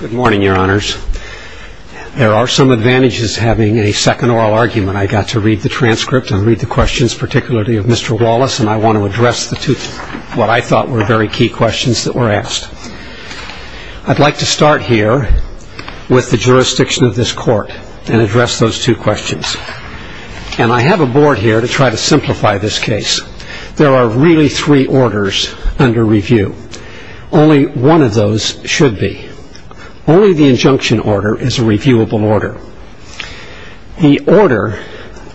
Good morning, Your Honors. There are some advantages to having a second oral argument. I got to read the transcript and read the questions, particularly of Mr. Wallace, and I want to address the two, what I thought were very key questions that were asked. I'd like to start here with the jurisdiction of this court and address those two questions. And I have a board here to try to simplify this case. There are really three orders under review. Only one of those should be. Only the injunction order is a reviewable order. The order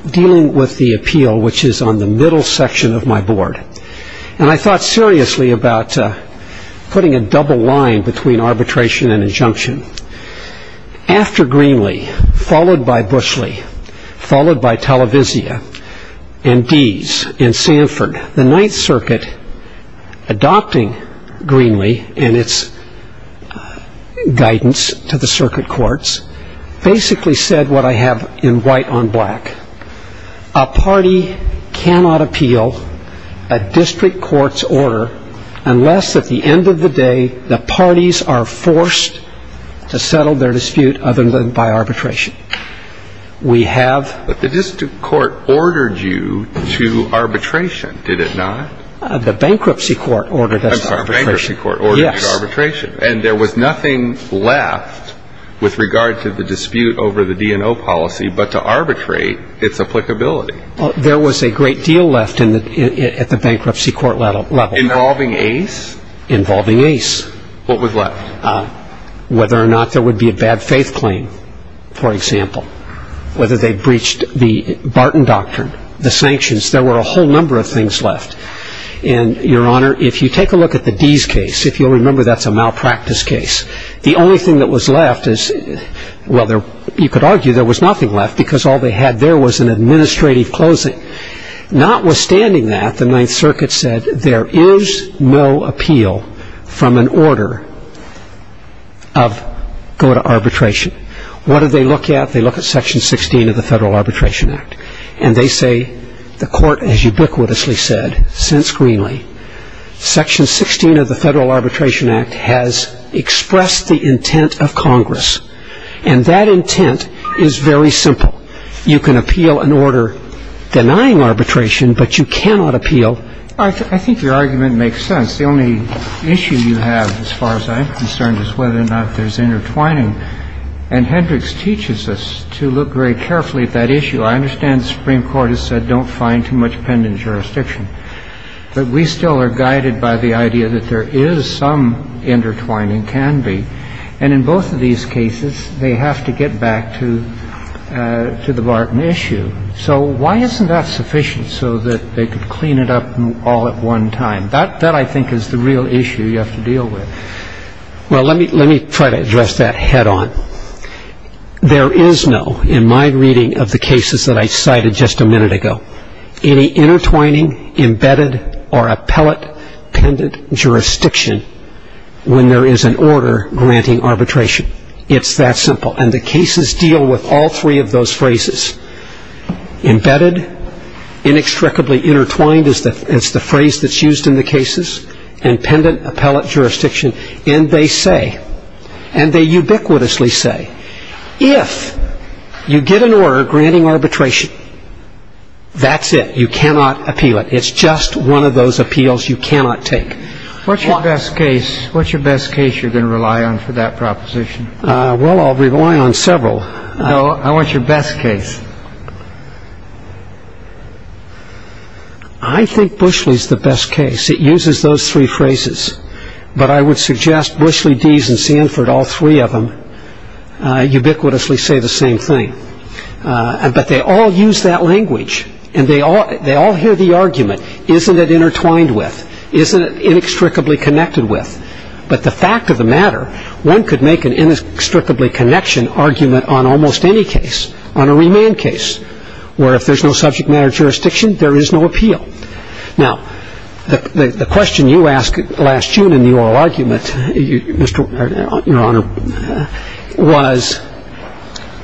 dealing with the appeal, which is on the middle section of my board, and I thought seriously about putting a double line between arbitration and injunction. After Greenlee, followed by Bushley, followed by Televisia, and Deese, and Sanford, the Ninth Circuit, adopting Greenlee and its guidance to the circuit courts, basically said what I have in white on black. A party cannot appeal a district court's order unless at the end of the day the parties are forced to settle their dispute other than by arbitration. We have... But the district court ordered you to arbitration, did it not? The bankruptcy court ordered us to arbitration. Yes. And there was nothing left with regard to the dispute over the DNO policy but to arbitrate its applicability. There was a great deal left at the bankruptcy court level. Involving Ace? Involving Ace. What was left? Whether or not there would be a bad faith claim, for example. Whether they breached the Barton Doctrine, the sanctions, there were a whole number of things left. And, Your Honor, if you take a look at the Deese case, if you'll remember, that's a malpractice case. The only thing that was left is, well, you could argue there was nothing left because all they had there was an administrative closing. Notwithstanding that, the Ninth Circuit said there is no appeal from an order of go to arbitration. What do they look at? They look at Section 16 of the Federal Arbitration Act. And they say, the court has ubiquitously said, since Greenlee, Section 16 of the Federal Arbitration Act has expressed the intent of Congress. And that intent is very simple. You can appeal an order denying arbitration, but you cannot appeal. I think your argument makes sense. The only issue you have, as far as I'm concerned, is whether or not there's intertwining. And Hendricks teaches us to look very carefully at that issue. I understand the Supreme Court has said don't find too much pen in jurisdiction. But we still are guided by the idea that there is some intertwining can be. And in both of these cases, they have to get back to the Barton issue. So why isn't that sufficient so that they could clean it up all at one time? That, I think, is the real issue you have to deal with. Well, let me try to address that head on. There is no, in my reading of the cases that I cited just a minute ago, any intertwining, embedded, or appellate pendent jurisdiction when there is an order granting arbitration. It's that simple. And the cases deal with all three of those phrases. Embedded, inextricably intertwined is the phrase that's used in the cases, and pendent appellate jurisdiction. And they say, and they ubiquitously say, if you get an order granting arbitration, that's it. You cannot appeal it. It's just one of those appeals you cannot take. What's your best case you're going to rely on for that proposition? Well, I'll rely on several. No, I want your best case. I think Bushley's the best case. It uses those three phrases. But I would suggest Bushley, Dease, and Sanford, all three of them, ubiquitously say the same thing. But they all use that language, and they all hear the argument, isn't it intertwined with? Isn't it inextricably connected with? But the fact of the matter, one could make an inextricably connection argument on almost any case, on a remand case, where if there's no subject matter jurisdiction, there is no appeal. Now, the question you asked last June in the oral argument, Your Honor, was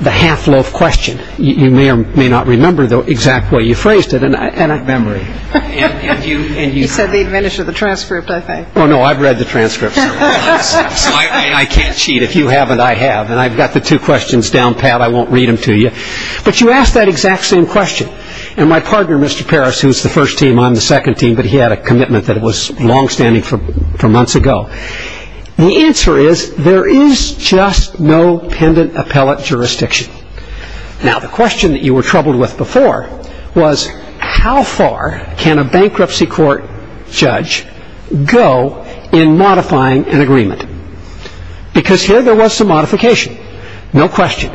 the half-loaf question. You may or may not remember the exact way you phrased it. I don't remember it. He said the advantage of the transcript, I think. Oh, no, I've read the transcript. So I can't cheat. If you haven't, I have. And I've got the two questions down, Pat. I won't read them to you. But you asked that exact same question. And my partner, Mr. Parris, who's the first team, I'm the second team, but he had a commitment that it was longstanding from months ago. The answer is there is just no pendant appellate jurisdiction. Now, the question that you were troubled with before was how far can a bankruptcy court judge go in modifying an agreement? Because here there was some modification, no question.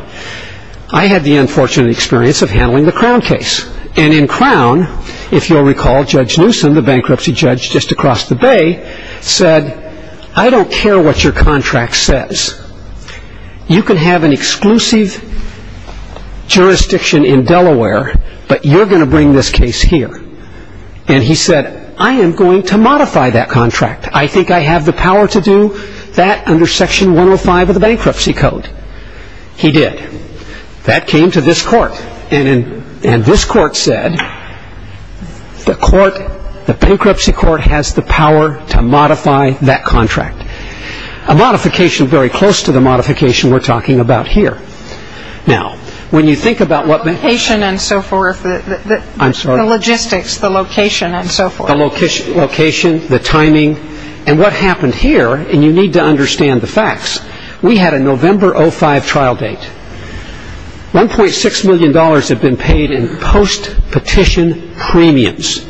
I had the unfortunate experience of handling the Crown case. And in Crown, if you'll recall, Judge Newsom, the bankruptcy judge just across the bay, said, I don't care what your contract says. You can have an exclusive jurisdiction in Delaware, but you're going to bring this case here. And he said, I am going to modify that contract. I think I have the power to do that under Section 105 of the Bankruptcy Code. He did. That came to this court. And this court said, the bankruptcy court has the power to modify that contract. A modification very close to the modification we're talking about here. Now, when you think about what... The location and so forth. I'm sorry. The logistics, the location and so forth. The location, the timing. And what happened here, and you need to understand the facts, we had a November 05 trial date. $1.6 million had been paid in post-petition premiums.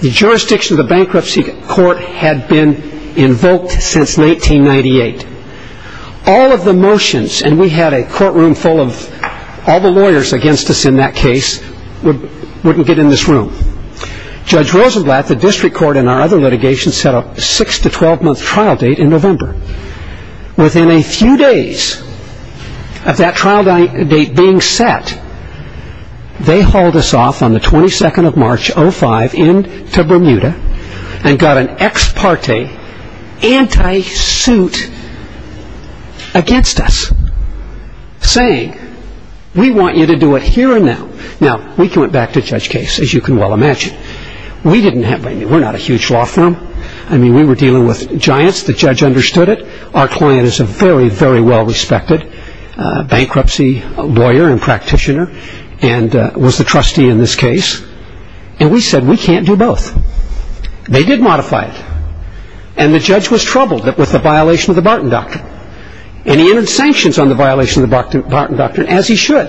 The jurisdiction of the bankruptcy court had been invoked since 1898. All of the motions, and we had a courtroom full of all the lawyers against us in that case, wouldn't get in this room. Judge Rosenblatt, the district court, and our other litigation set a 6-12 month trial date in November. Within a few days of that trial date being set, they hauled us off on the 22nd of March, 05, into Bermuda, and got an ex parte anti-suit against us, saying, we want you to do it here and now. Now, we went back to Judge Case, as you can well imagine. We didn't have... we're not a huge law firm. I mean, we were dealing with giants. The judge understood it. Our client is a very, very well respected bankruptcy lawyer and practitioner, and was the trustee in this case. And we said, we can't do both. They did modify it. And the judge was troubled with the violation of the Barton Doctrine. And he entered sanctions on the violation of the Barton Doctrine, as he should.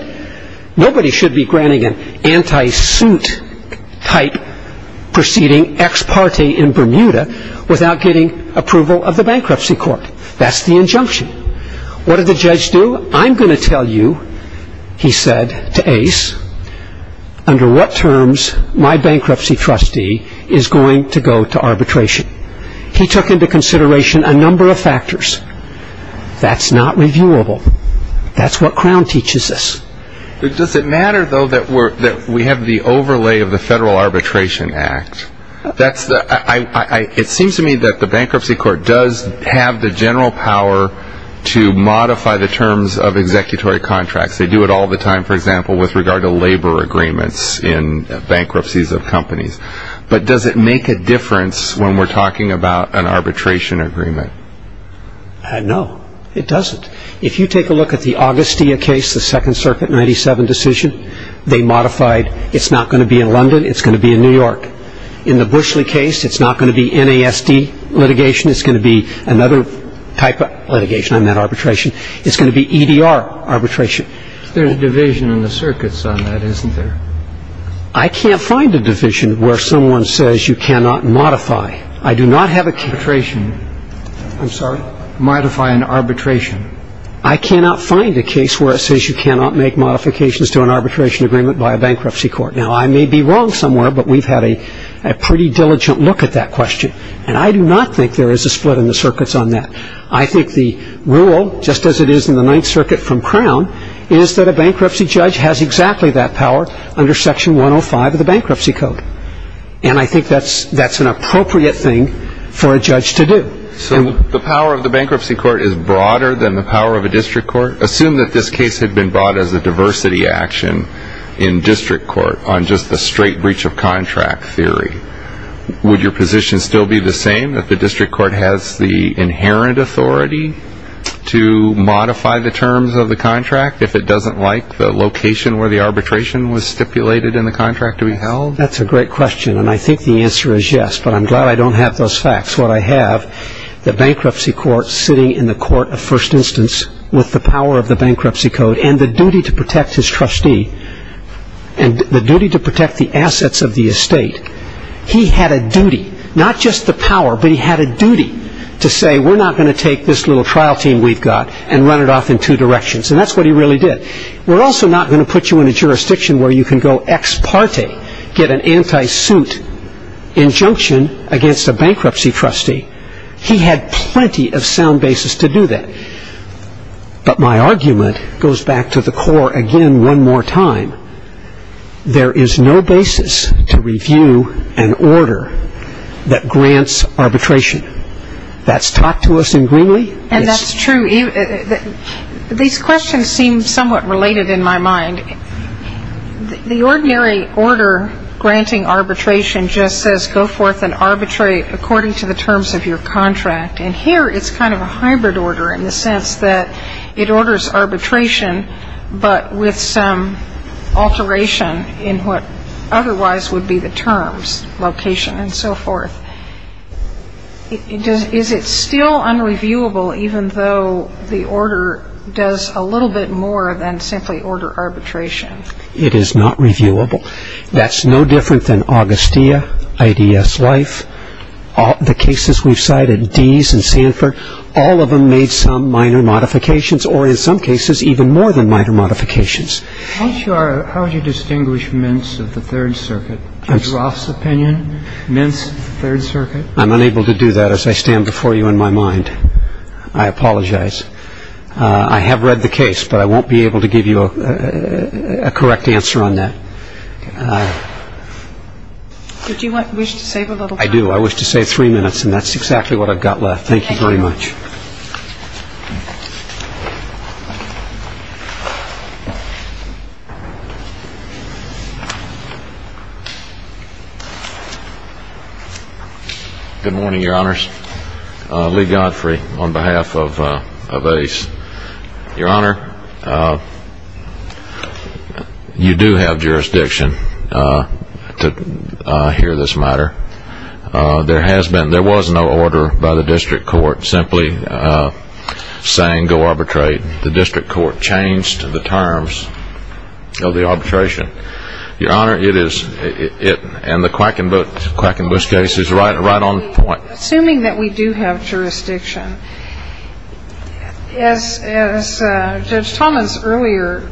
Nobody should be granting an anti-suit type proceeding ex parte in Bermuda without getting approval of the bankruptcy court. That's the injunction. What did the judge do? I'm going to tell you, he said to Ace, under what terms my bankruptcy trustee is going to go to arbitration. He took into consideration a number of factors. That's not reviewable. That's what Crown teaches us. Does it matter, though, that we have the overlay of the Federal Arbitration Act? It seems to me that the bankruptcy court does have the general power to modify the terms of executory contracts. They do it all the time, for example, with regard to labor agreements in bankruptcies of companies. But does it make a difference when we're talking about an arbitration agreement? No, it doesn't. If you take a look at the Augustia case, the Second Circuit 97 decision, they modified it's not going to be in London, it's going to be in New York. In the Bushley case, it's not going to be NASD litigation. It's going to be another type of litigation, not arbitration. It's going to be EDR arbitration. There's a division in the circuits on that, isn't there? I can't find a division where someone says you cannot modify. I do not have a case. I'm sorry? Modify an arbitration. I cannot find a case where it says you cannot make modifications to an arbitration agreement by a bankruptcy court. Now, I may be wrong somewhere, but we've had a pretty diligent look at that question. And I do not think there is a split in the circuits on that. I think the rule, just as it is in the Ninth Circuit from Crown, is that a bankruptcy judge has exactly that power under Section 105 of the Bankruptcy Code. And I think that's an appropriate thing for a judge to do. So the power of the bankruptcy court is broader than the power of a district court? Assume that this case had been brought as a diversity action in district court on just the straight breach of contract theory. Would your position still be the same, that the district court has the inherent authority to modify the terms of the contract if it doesn't like the location Well, that's a great question, and I think the answer is yes. But I'm glad I don't have those facts. What I have, the bankruptcy court sitting in the court of first instance with the power of the Bankruptcy Code and the duty to protect his trustee and the duty to protect the assets of the estate, he had a duty, not just the power, but he had a duty to say, we're not going to take this little trial team we've got and run it off in two directions. And that's what he really did. We're also not going to put you in a jurisdiction where you can go ex parte, get an anti-suit injunction against a bankruptcy trustee. He had plenty of sound basis to do that. But my argument goes back to the core again one more time. There is no basis to review an order that grants arbitration. That's taught to us in Greenlee. And that's true. These questions seem somewhat related in my mind. The ordinary order granting arbitration just says go forth and arbitrate according to the terms of your contract. And here it's kind of a hybrid order in the sense that it orders arbitration, but with some alteration in what otherwise would be the terms, location, and so forth. Is it still unreviewable even though the order does a little bit more than simply order arbitration? It is not reviewable. That's no different than Augustia, IDS Life, the cases we've cited, Dease and Sanford. All of them made some minor modifications or in some cases even more than minor modifications. How would you distinguish mints of the Third Circuit? Judge Roth's opinion, mints of the Third Circuit? I'm unable to do that as I stand before you in my mind. I apologize. I have read the case, but I won't be able to give you a correct answer on that. Do you wish to save a little time? I do. I wish to save three minutes, and that's exactly what I've got left. Thank you very much. Good morning, Your Honors. Lee Godfrey on behalf of ACE. Your Honor, you do have jurisdiction to hear this matter. There has been, there was no order by the district court simply saying go arbitrate. The district court changed the terms of the arbitration. Your Honor, it is, and the Quackenbooth case is right on point. Assuming that we do have jurisdiction, as Judge Thomas' earlier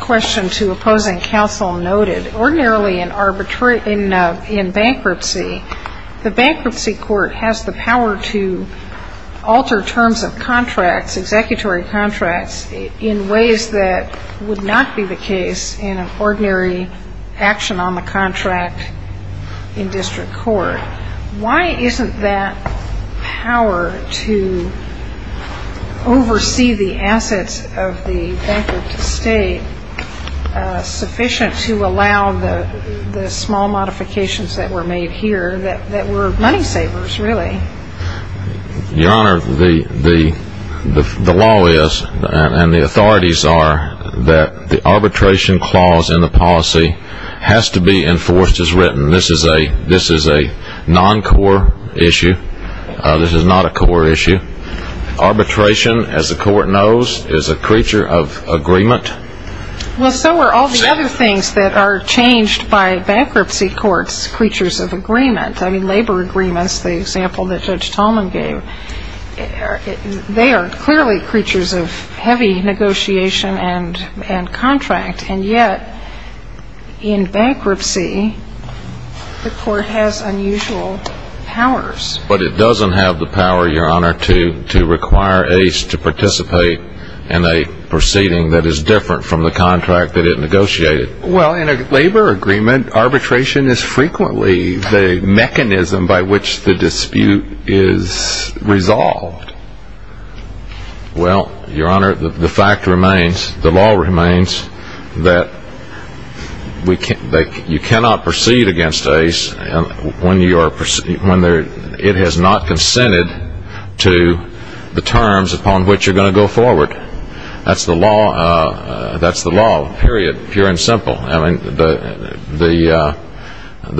question to opposing counsel noted, ordinarily in bankruptcy, the bankruptcy court has the power to alter terms of contracts, executory contracts, in ways that would not be the case in an ordinary action on the contract in district court. Why isn't that power to oversee the assets of the bankrupt state sufficient to allow the small modifications that were made here that were money savers, really? Your Honor, the law is, and the authorities are, that the arbitration clause in the policy has to be enforced as written. This is a non-core issue. This is not a core issue. Arbitration, as the court knows, is a creature of agreement. Well, so are all the other things that are changed by bankruptcy courts' creatures of agreement. I mean, labor agreements, the example that Judge Talman gave, they are clearly creatures of heavy negotiation and contract. And yet, in bankruptcy, the court has unusual powers. But it doesn't have the power, Your Honor, to require Ace to participate in a proceeding that is different from the contract that it negotiated. Well, in a labor agreement, arbitration is frequently the mechanism by which the dispute is resolved. Well, Your Honor, the fact remains, the law remains, that you cannot proceed against Ace when it has not consented to the terms upon which you're going to go forward. That's the law, period, pure and simple. I mean, the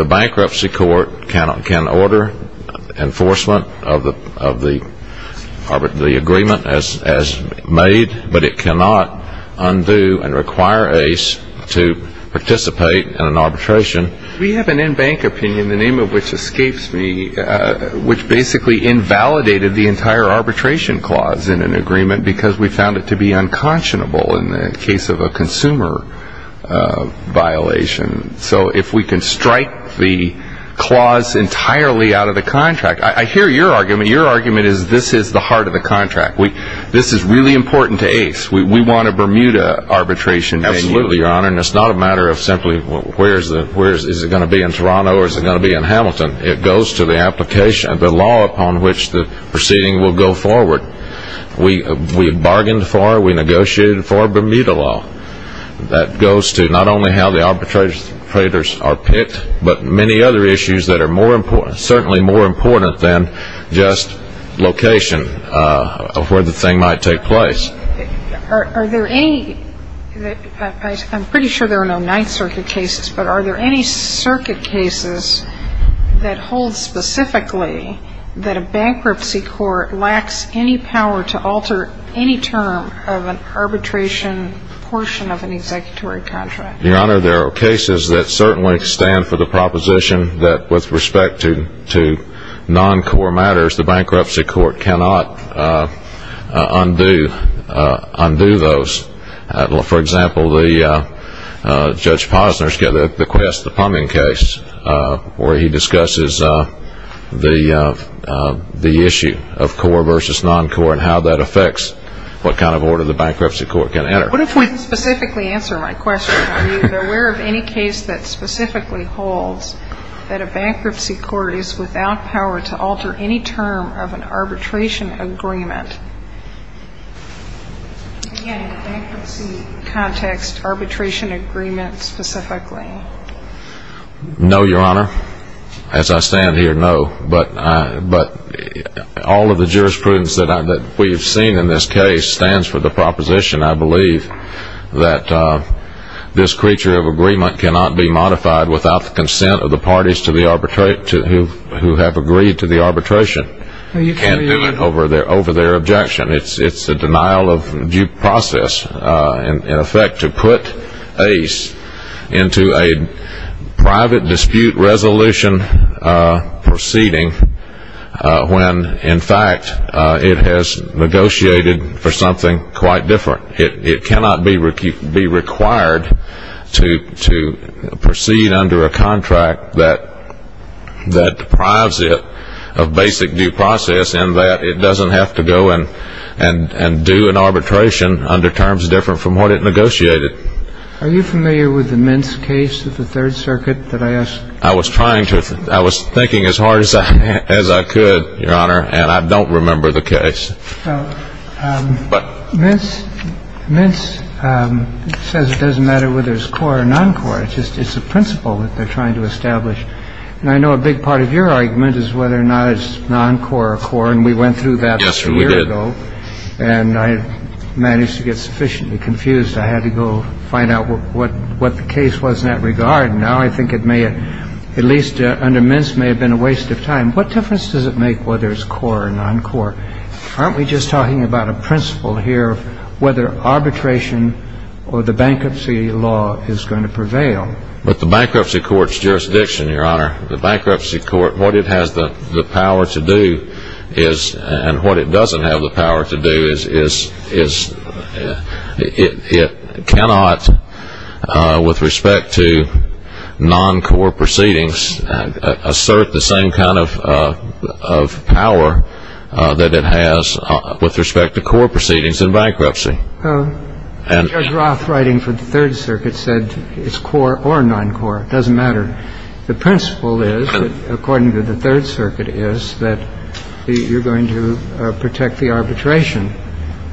bankruptcy court can order enforcement of the agreement as made, but it cannot undo and require Ace to participate in an arbitration. We have an in-bank opinion, the name of which escapes me, which basically invalidated the entire arbitration clause in an agreement because we found it to be unconscionable in the case of a consumer violation. So if we can strike the clause entirely out of the contract, I hear your argument. Your argument is this is the heart of the contract. This is really important to Ace. We want a Bermuda arbitration. Absolutely, Your Honor. And it's not a matter of simply where is it going to be, in Toronto or is it going to be in Hamilton. It goes to the application of the law upon which the proceeding will go forward. We bargained for, we negotiated for Bermuda law. That goes to not only how the arbitrators are picked, but many other issues that are certainly more important than just location of where the thing might take place. Are there any, I'm pretty sure there are no Ninth Circuit cases, but are there any circuit cases that hold specifically that a bankruptcy court lacks any power to alter any term of an arbitration portion of an executory contract? Your Honor, there are cases that certainly stand for the proposition that with respect to non-core matters, the bankruptcy court cannot undo those. For example, Judge Posner's case, the Pumding case, where he discusses the issue of core versus non-core and how that affects what kind of order the bankruptcy court can enter. I didn't specifically answer my question. Are you aware of any case that specifically holds that a bankruptcy court is without power to alter any term of an arbitration agreement? Again, in a bankruptcy context, arbitration agreement specifically. No, Your Honor. As I stand here, no. But all of the jurisprudence that we've seen in this case stands for the proposition, I believe, that this creature of agreement cannot be modified without the consent of the parties who have agreed to the arbitration. You can't do it over their objection. It's a denial of due process, in effect, to put ACE into a private dispute resolution proceeding when, in fact, it has negotiated for something quite different. It cannot be required to proceed under a contract that deprives it of basic due process and that it doesn't have to go and do an arbitration under terms different from what it negotiated. Are you familiar with the Mintz case of the Third Circuit that I asked? I was trying to. I was thinking as hard as I could, Your Honor, and I don't remember the case. Well, Mintz says it doesn't matter whether it's core or non-core. It's just it's a principle that they're trying to establish. And I know a big part of your argument is whether or not it's non-core or core. And we went through that a year ago. And I managed to get sufficiently confused. I had to go find out what the case was in that regard. And now I think it may have, at least under Mintz, may have been a waste of time. What difference does it make whether it's core or non-core? Aren't we just talking about a principle here of whether arbitration or the bankruptcy law is going to prevail? But the bankruptcy court's jurisdiction, Your Honor, the bankruptcy court, what it has the power to do is And what it doesn't have the power to do is it cannot, with respect to non-core proceedings, assert the same kind of power that it has with respect to core proceedings in bankruptcy. Judge Roth, writing for the Third Circuit, said it's core or non-core. It doesn't matter. The principle is, according to the Third Circuit, is that you're going to protect the arbitration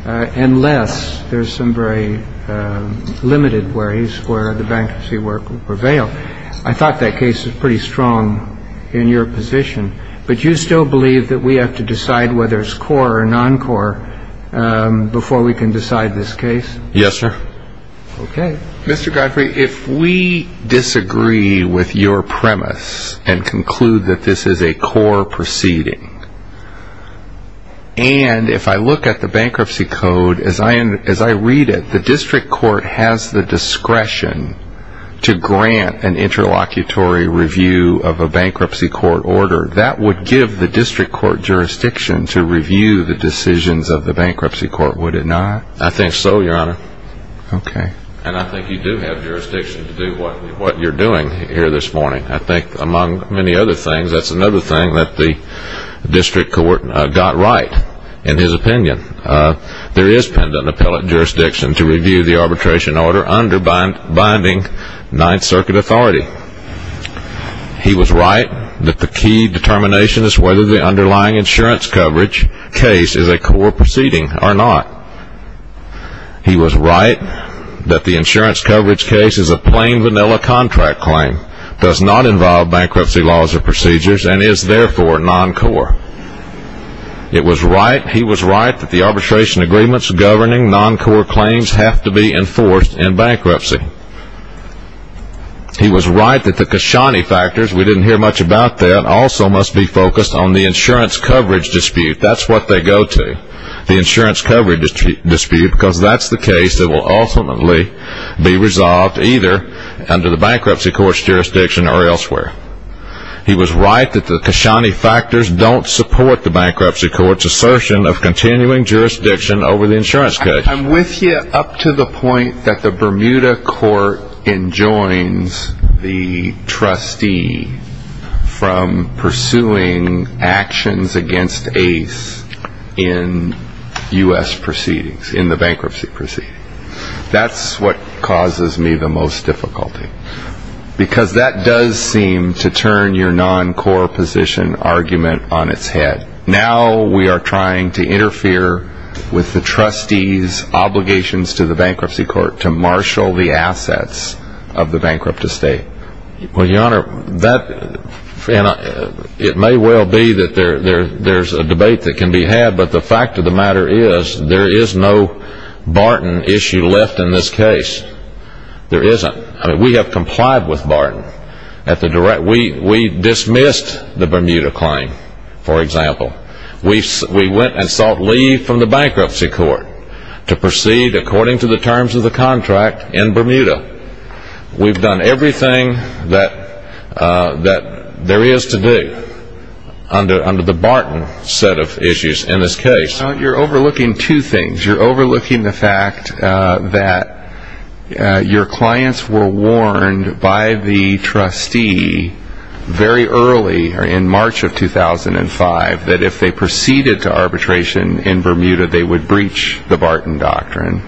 unless there's some very limited worries where the bankruptcy work will prevail. I thought that case was pretty strong in your position. But you still believe that we have to decide whether it's core or non-core before we can decide this case? Yes, sir. Okay. Mr. Godfrey, if we disagree with your premise and conclude that this is a core proceeding, and if I look at the bankruptcy code, as I read it, the district court has the discretion to grant an interlocutory review of a bankruptcy court order, that would give the district court jurisdiction to review the decisions of the bankruptcy court, would it not? I think so, Your Honor. Okay. And I think you do have jurisdiction to do what you're doing here this morning. I think, among many other things, that's another thing that the district court got right in his opinion. There is pendent appellate jurisdiction to review the arbitration order under binding Ninth Circuit authority. He was right that the key determination is whether the underlying insurance coverage case is a core proceeding or not. He was right that the insurance coverage case is a plain vanilla contract claim, does not involve bankruptcy laws or procedures, and is therefore non-core. He was right that the arbitration agreements governing non-core claims have to be enforced in bankruptcy. He was right that the Kashani factors, we didn't hear much about that, also must be focused on the insurance coverage dispute. That's what they go to. Because that's the case that will ultimately be resolved either under the bankruptcy court's jurisdiction or elsewhere. He was right that the Kashani factors don't support the bankruptcy court's assertion of continuing jurisdiction over the insurance case. I'm with you up to the point that the Bermuda court enjoins the trustee from pursuing actions against ACE in U.S. proceedings, in the bankruptcy proceedings. That's what causes me the most difficulty. Because that does seem to turn your non-core position argument on its head. Now we are trying to interfere with the trustee's obligations to the bankruptcy court to marshal the assets of the bankrupt estate. Well, your honor, it may well be that there's a debate that can be had, but the fact of the matter is there is no Barton issue left in this case. There isn't. We have complied with Barton. We dismissed the Bermuda claim, for example. We went and sought leave from the bankruptcy court to proceed according to the terms of the contract in Bermuda. We've done everything that there is to do under the Barton set of issues in this case. You're overlooking two things. You're overlooking the fact that your clients were warned by the trustee very early in March of 2005 that if they proceeded to arbitration in Bermuda, they would breach the Barton doctrine.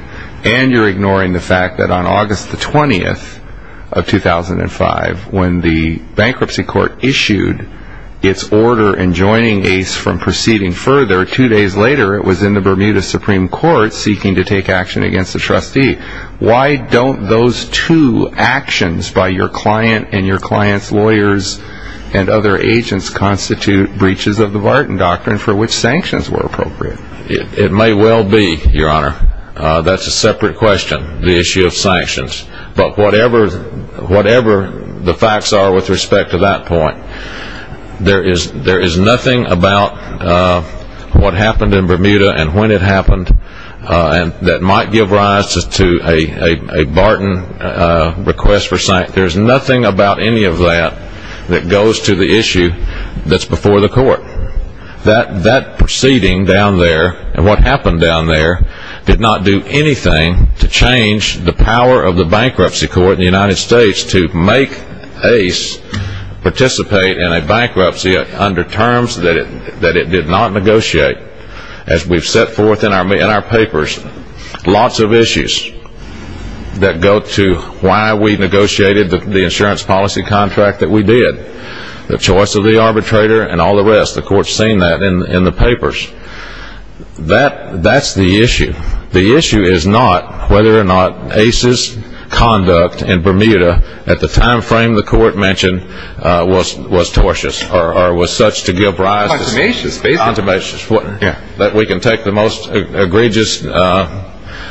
And you're ignoring the fact that on August the 20th of 2005, when the bankruptcy court issued its order enjoining Ace from proceeding further, two days later it was in the Bermuda Supreme Court seeking to take action against the trustee. Why don't those two actions by your client and your client's lawyers and other agents constitute breaches of the Barton doctrine for which sanctions were appropriate? It may well be, your honor. That's a separate question, the issue of sanctions. But whatever the facts are with respect to that point, there is nothing about what happened in Bermuda and when it happened that might give rise to a Barton request for sanctions. There's nothing about any of that that goes to the issue that's before the court. That proceeding down there and what happened down there did not do anything to change the power of the bankruptcy court in the United States to make Ace participate in a bankruptcy under terms that it did not negotiate. As we've set forth in our papers, lots of issues that go to why we negotiated the insurance policy contract that we did, the choice of the arbitrator and all the rest. The court's seen that in the papers. That's the issue. The issue is not whether or not Ace's conduct in Bermuda at the time frame the court mentioned was tortious or was such to give rise to that we can take the most egregious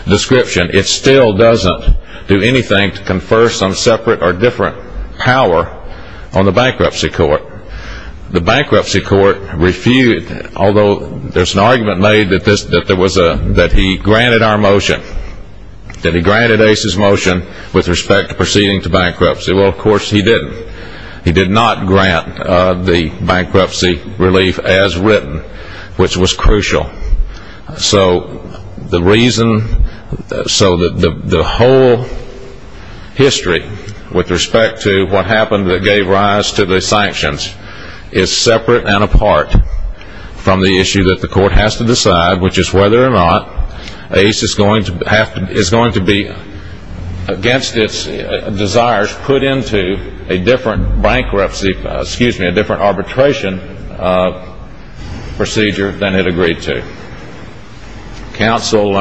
description. It still doesn't do anything to confer some separate or different power on the bankruptcy court. The bankruptcy court refused, although there's an argument made that he granted our motion, that he granted Ace's motion with respect to proceeding to bankruptcy. Well, of course, he didn't. He did not grant the bankruptcy relief as written, which was crucial. So the whole history with respect to what happened that gave rise to the sanctions is separate and apart from the issue that the court has to decide, which is whether or not Ace is going to be, against its desires, put into a different bankruptcy, excuse me, a different arbitration procedure than it agreed to. Counsel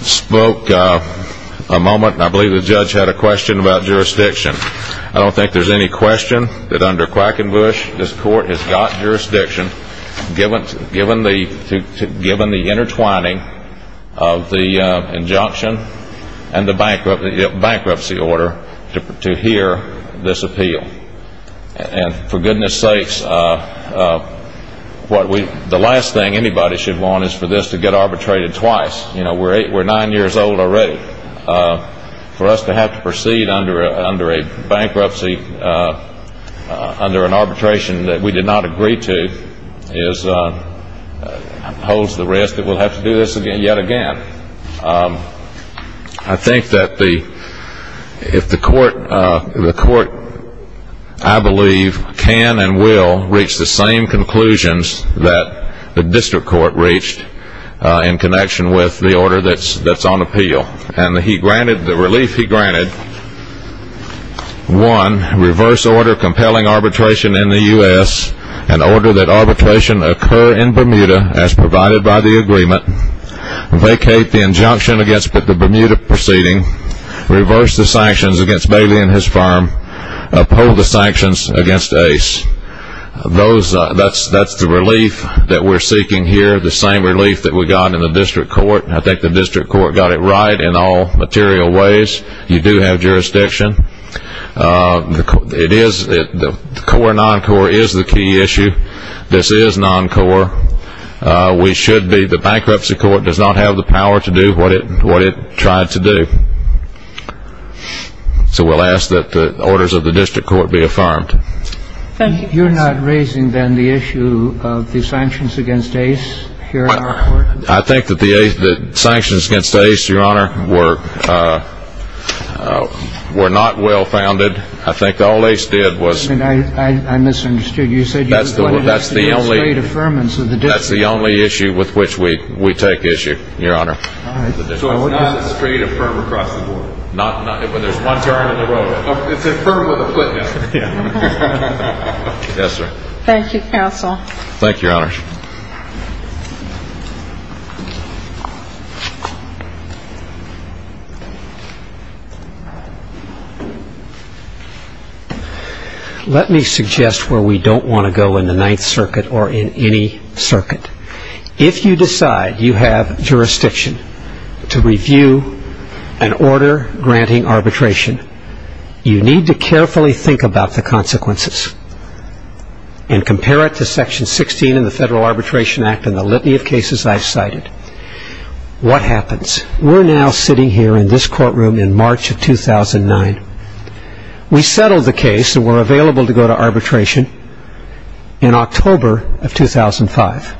spoke a moment and I believe the judge had a question about jurisdiction. I don't think there's any question that under Quackenbush this court has got jurisdiction given the intertwining of the injunction and the bankruptcy order to hear this appeal. And for goodness sakes, the last thing anybody should want is for this to get arbitrated twice. We're nine years old already. For us to have to proceed under a bankruptcy, under an arbitration that we did not agree to, holds the risk that we'll have to do this yet again. I think that if the court, I believe, can and will reach the same conclusions that the district court reached in connection with the order that's on appeal. And the relief he granted, one, reverse order compelling arbitration in the U.S., an order that arbitration occur in Bermuda as provided by the agreement, vacate the injunction against the Bermuda proceeding, reverse the sanctions against Bailey and his firm, uphold the sanctions against Ace. That's the relief that we're seeking here, the same relief that we got in the district court. I think the district court got it right in all material ways. You do have jurisdiction. The core non-core is the key issue. This is non-core. We should be, the bankruptcy court does not have the power to do what it tried to do. So we'll ask that the orders of the district court be affirmed. Thank you. You're not raising, then, the issue of the sanctions against Ace here in our court? I think that the sanctions against Ace, Your Honor, were not well founded. I think all Ace did was. I misunderstood. You said you were going to ask for a straight affirmance of the district court. That's the only issue with which we take issue, Your Honor. So it's not a straight affirm across the board. When there's one turn in the road. It's affirmed with a footnote. Yes, sir. Thank you, counsel. Thank you, Your Honor. Let me suggest where we don't want to go in the Ninth Circuit or in any circuit. If you decide you have jurisdiction to review an order granting arbitration, you need to carefully think about the consequences and compare it to Section 16 in the Federal Arbitration Act and the litany of cases I've cited. What happens? We're now sitting here in this courtroom in March of 2009. We settled the case and were available to go to arbitration in October of 2005.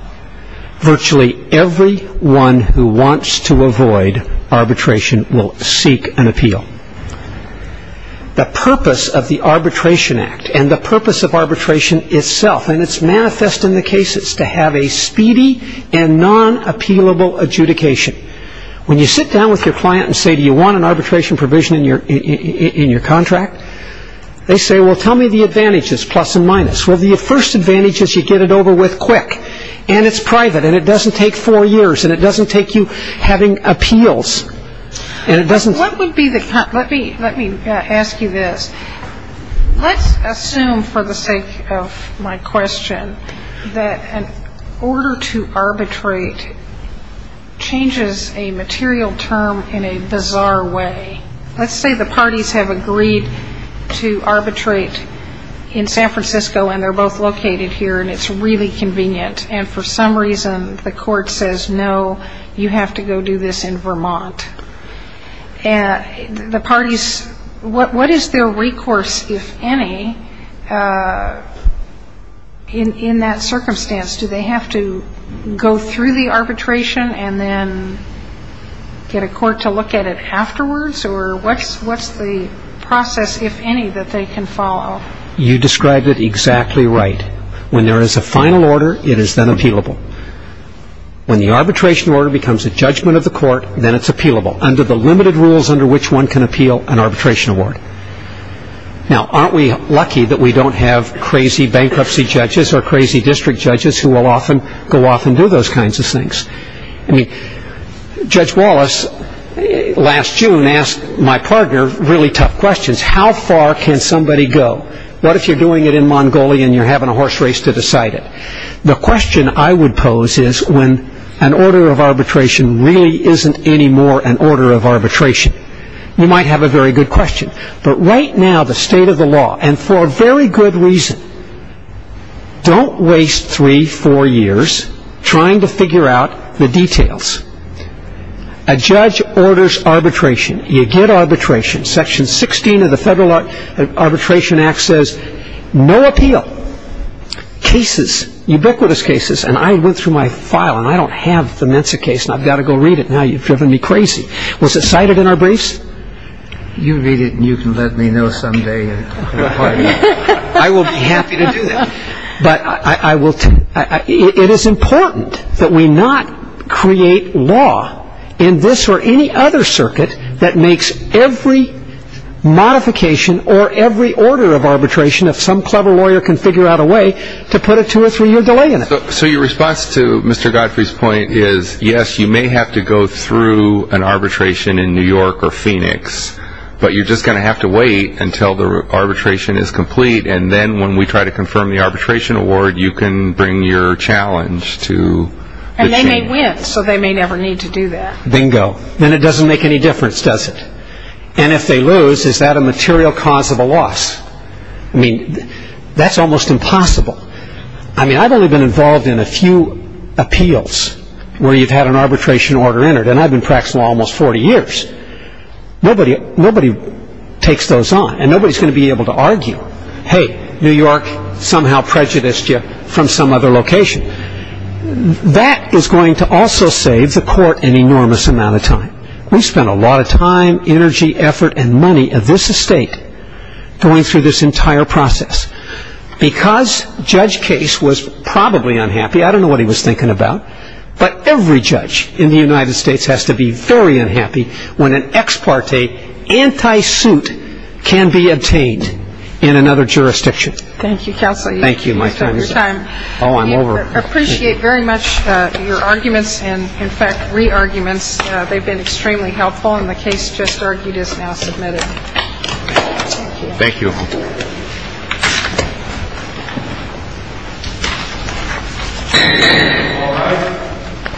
Virtually everyone who wants to avoid arbitration will seek an appeal. The purpose of the Arbitration Act and the purpose of arbitration itself, and it's manifest in the cases, to have a speedy and non-appealable adjudication. When you sit down with your client and say, do you want an arbitration provision in your contract? They say, well, tell me the advantages, plus and minus. Well, the first advantage is you get it over with quick, and it's private, and it doesn't take four years, and it doesn't take you having appeals. Let me ask you this. Let's assume, for the sake of my question, that an order to arbitrate changes a material term in a bizarre way. Let's say the parties have agreed to arbitrate in San Francisco, and they're both located here, and it's really convenient, and for some reason the court says, no, you have to go do this in Vermont. The parties, what is their recourse, if any, in that circumstance? Do they have to go through the arbitration and then get a court to look at it afterwards, or what's the process, if any, that they can follow? You described it exactly right. When there is a final order, it is then appealable. When the arbitration order becomes a judgment of the court, then it's appealable, under the limited rules under which one can appeal an arbitration award. Now, aren't we lucky that we don't have crazy bankruptcy judges or crazy district judges who will often go off and do those kinds of things? I mean, Judge Wallace, last June, asked my partner really tough questions. How far can somebody go? What if you're doing it in Mongolia, and you're having a horse race to decide it? The question I would pose is when an order of arbitration really isn't anymore an order of arbitration. You might have a very good question. But right now, the state of the law, and for very good reason, don't waste three, four years trying to figure out the details. A judge orders arbitration. You get arbitration. Section 16 of the Federal Arbitration Act says no appeal. Cases, ubiquitous cases, and I went through my file, and I don't have the Mensa case, and I've got to go read it now. You've driven me crazy. Was it cited in our briefs? You read it, and you can let me know someday. I will be happy to do that. But it is important that we not create law in this or any other circuit that makes every modification or every order of arbitration, if some clever lawyer can figure out a way, to put a two- or three-year delay in it. So your response to Mr. Godfrey's point is yes, you may have to go through an arbitration in New York or Phoenix, but you're just going to have to wait until the arbitration is complete, and then when we try to confirm the arbitration award, you can bring your challenge to the chamber. And they may win, so they may never need to do that. Bingo. Then it doesn't make any difference, does it? And if they lose, is that a material cause of a loss? I mean, that's almost impossible. I mean, I've only been involved in a few appeals where you've had an arbitration order entered, and I've been practicing law almost 40 years. Nobody takes those on, and nobody's going to be able to argue, hey, New York somehow prejudiced you from some other location. That is going to also save the court an enormous amount of time. We spent a lot of time, energy, effort, and money of this estate going through this entire process. Because Judge Case was probably unhappy, I don't know what he was thinking about, but every judge in the United States has to be very unhappy when an ex parte anti-suit can be obtained in another jurisdiction. Thank you, counsel. Thank you, my time is up. Oh, I'm over. We appreciate very much your arguments and, in fact, re-arguments. They've been extremely helpful, and the case just argued is now submitted. Thank you. Thank you.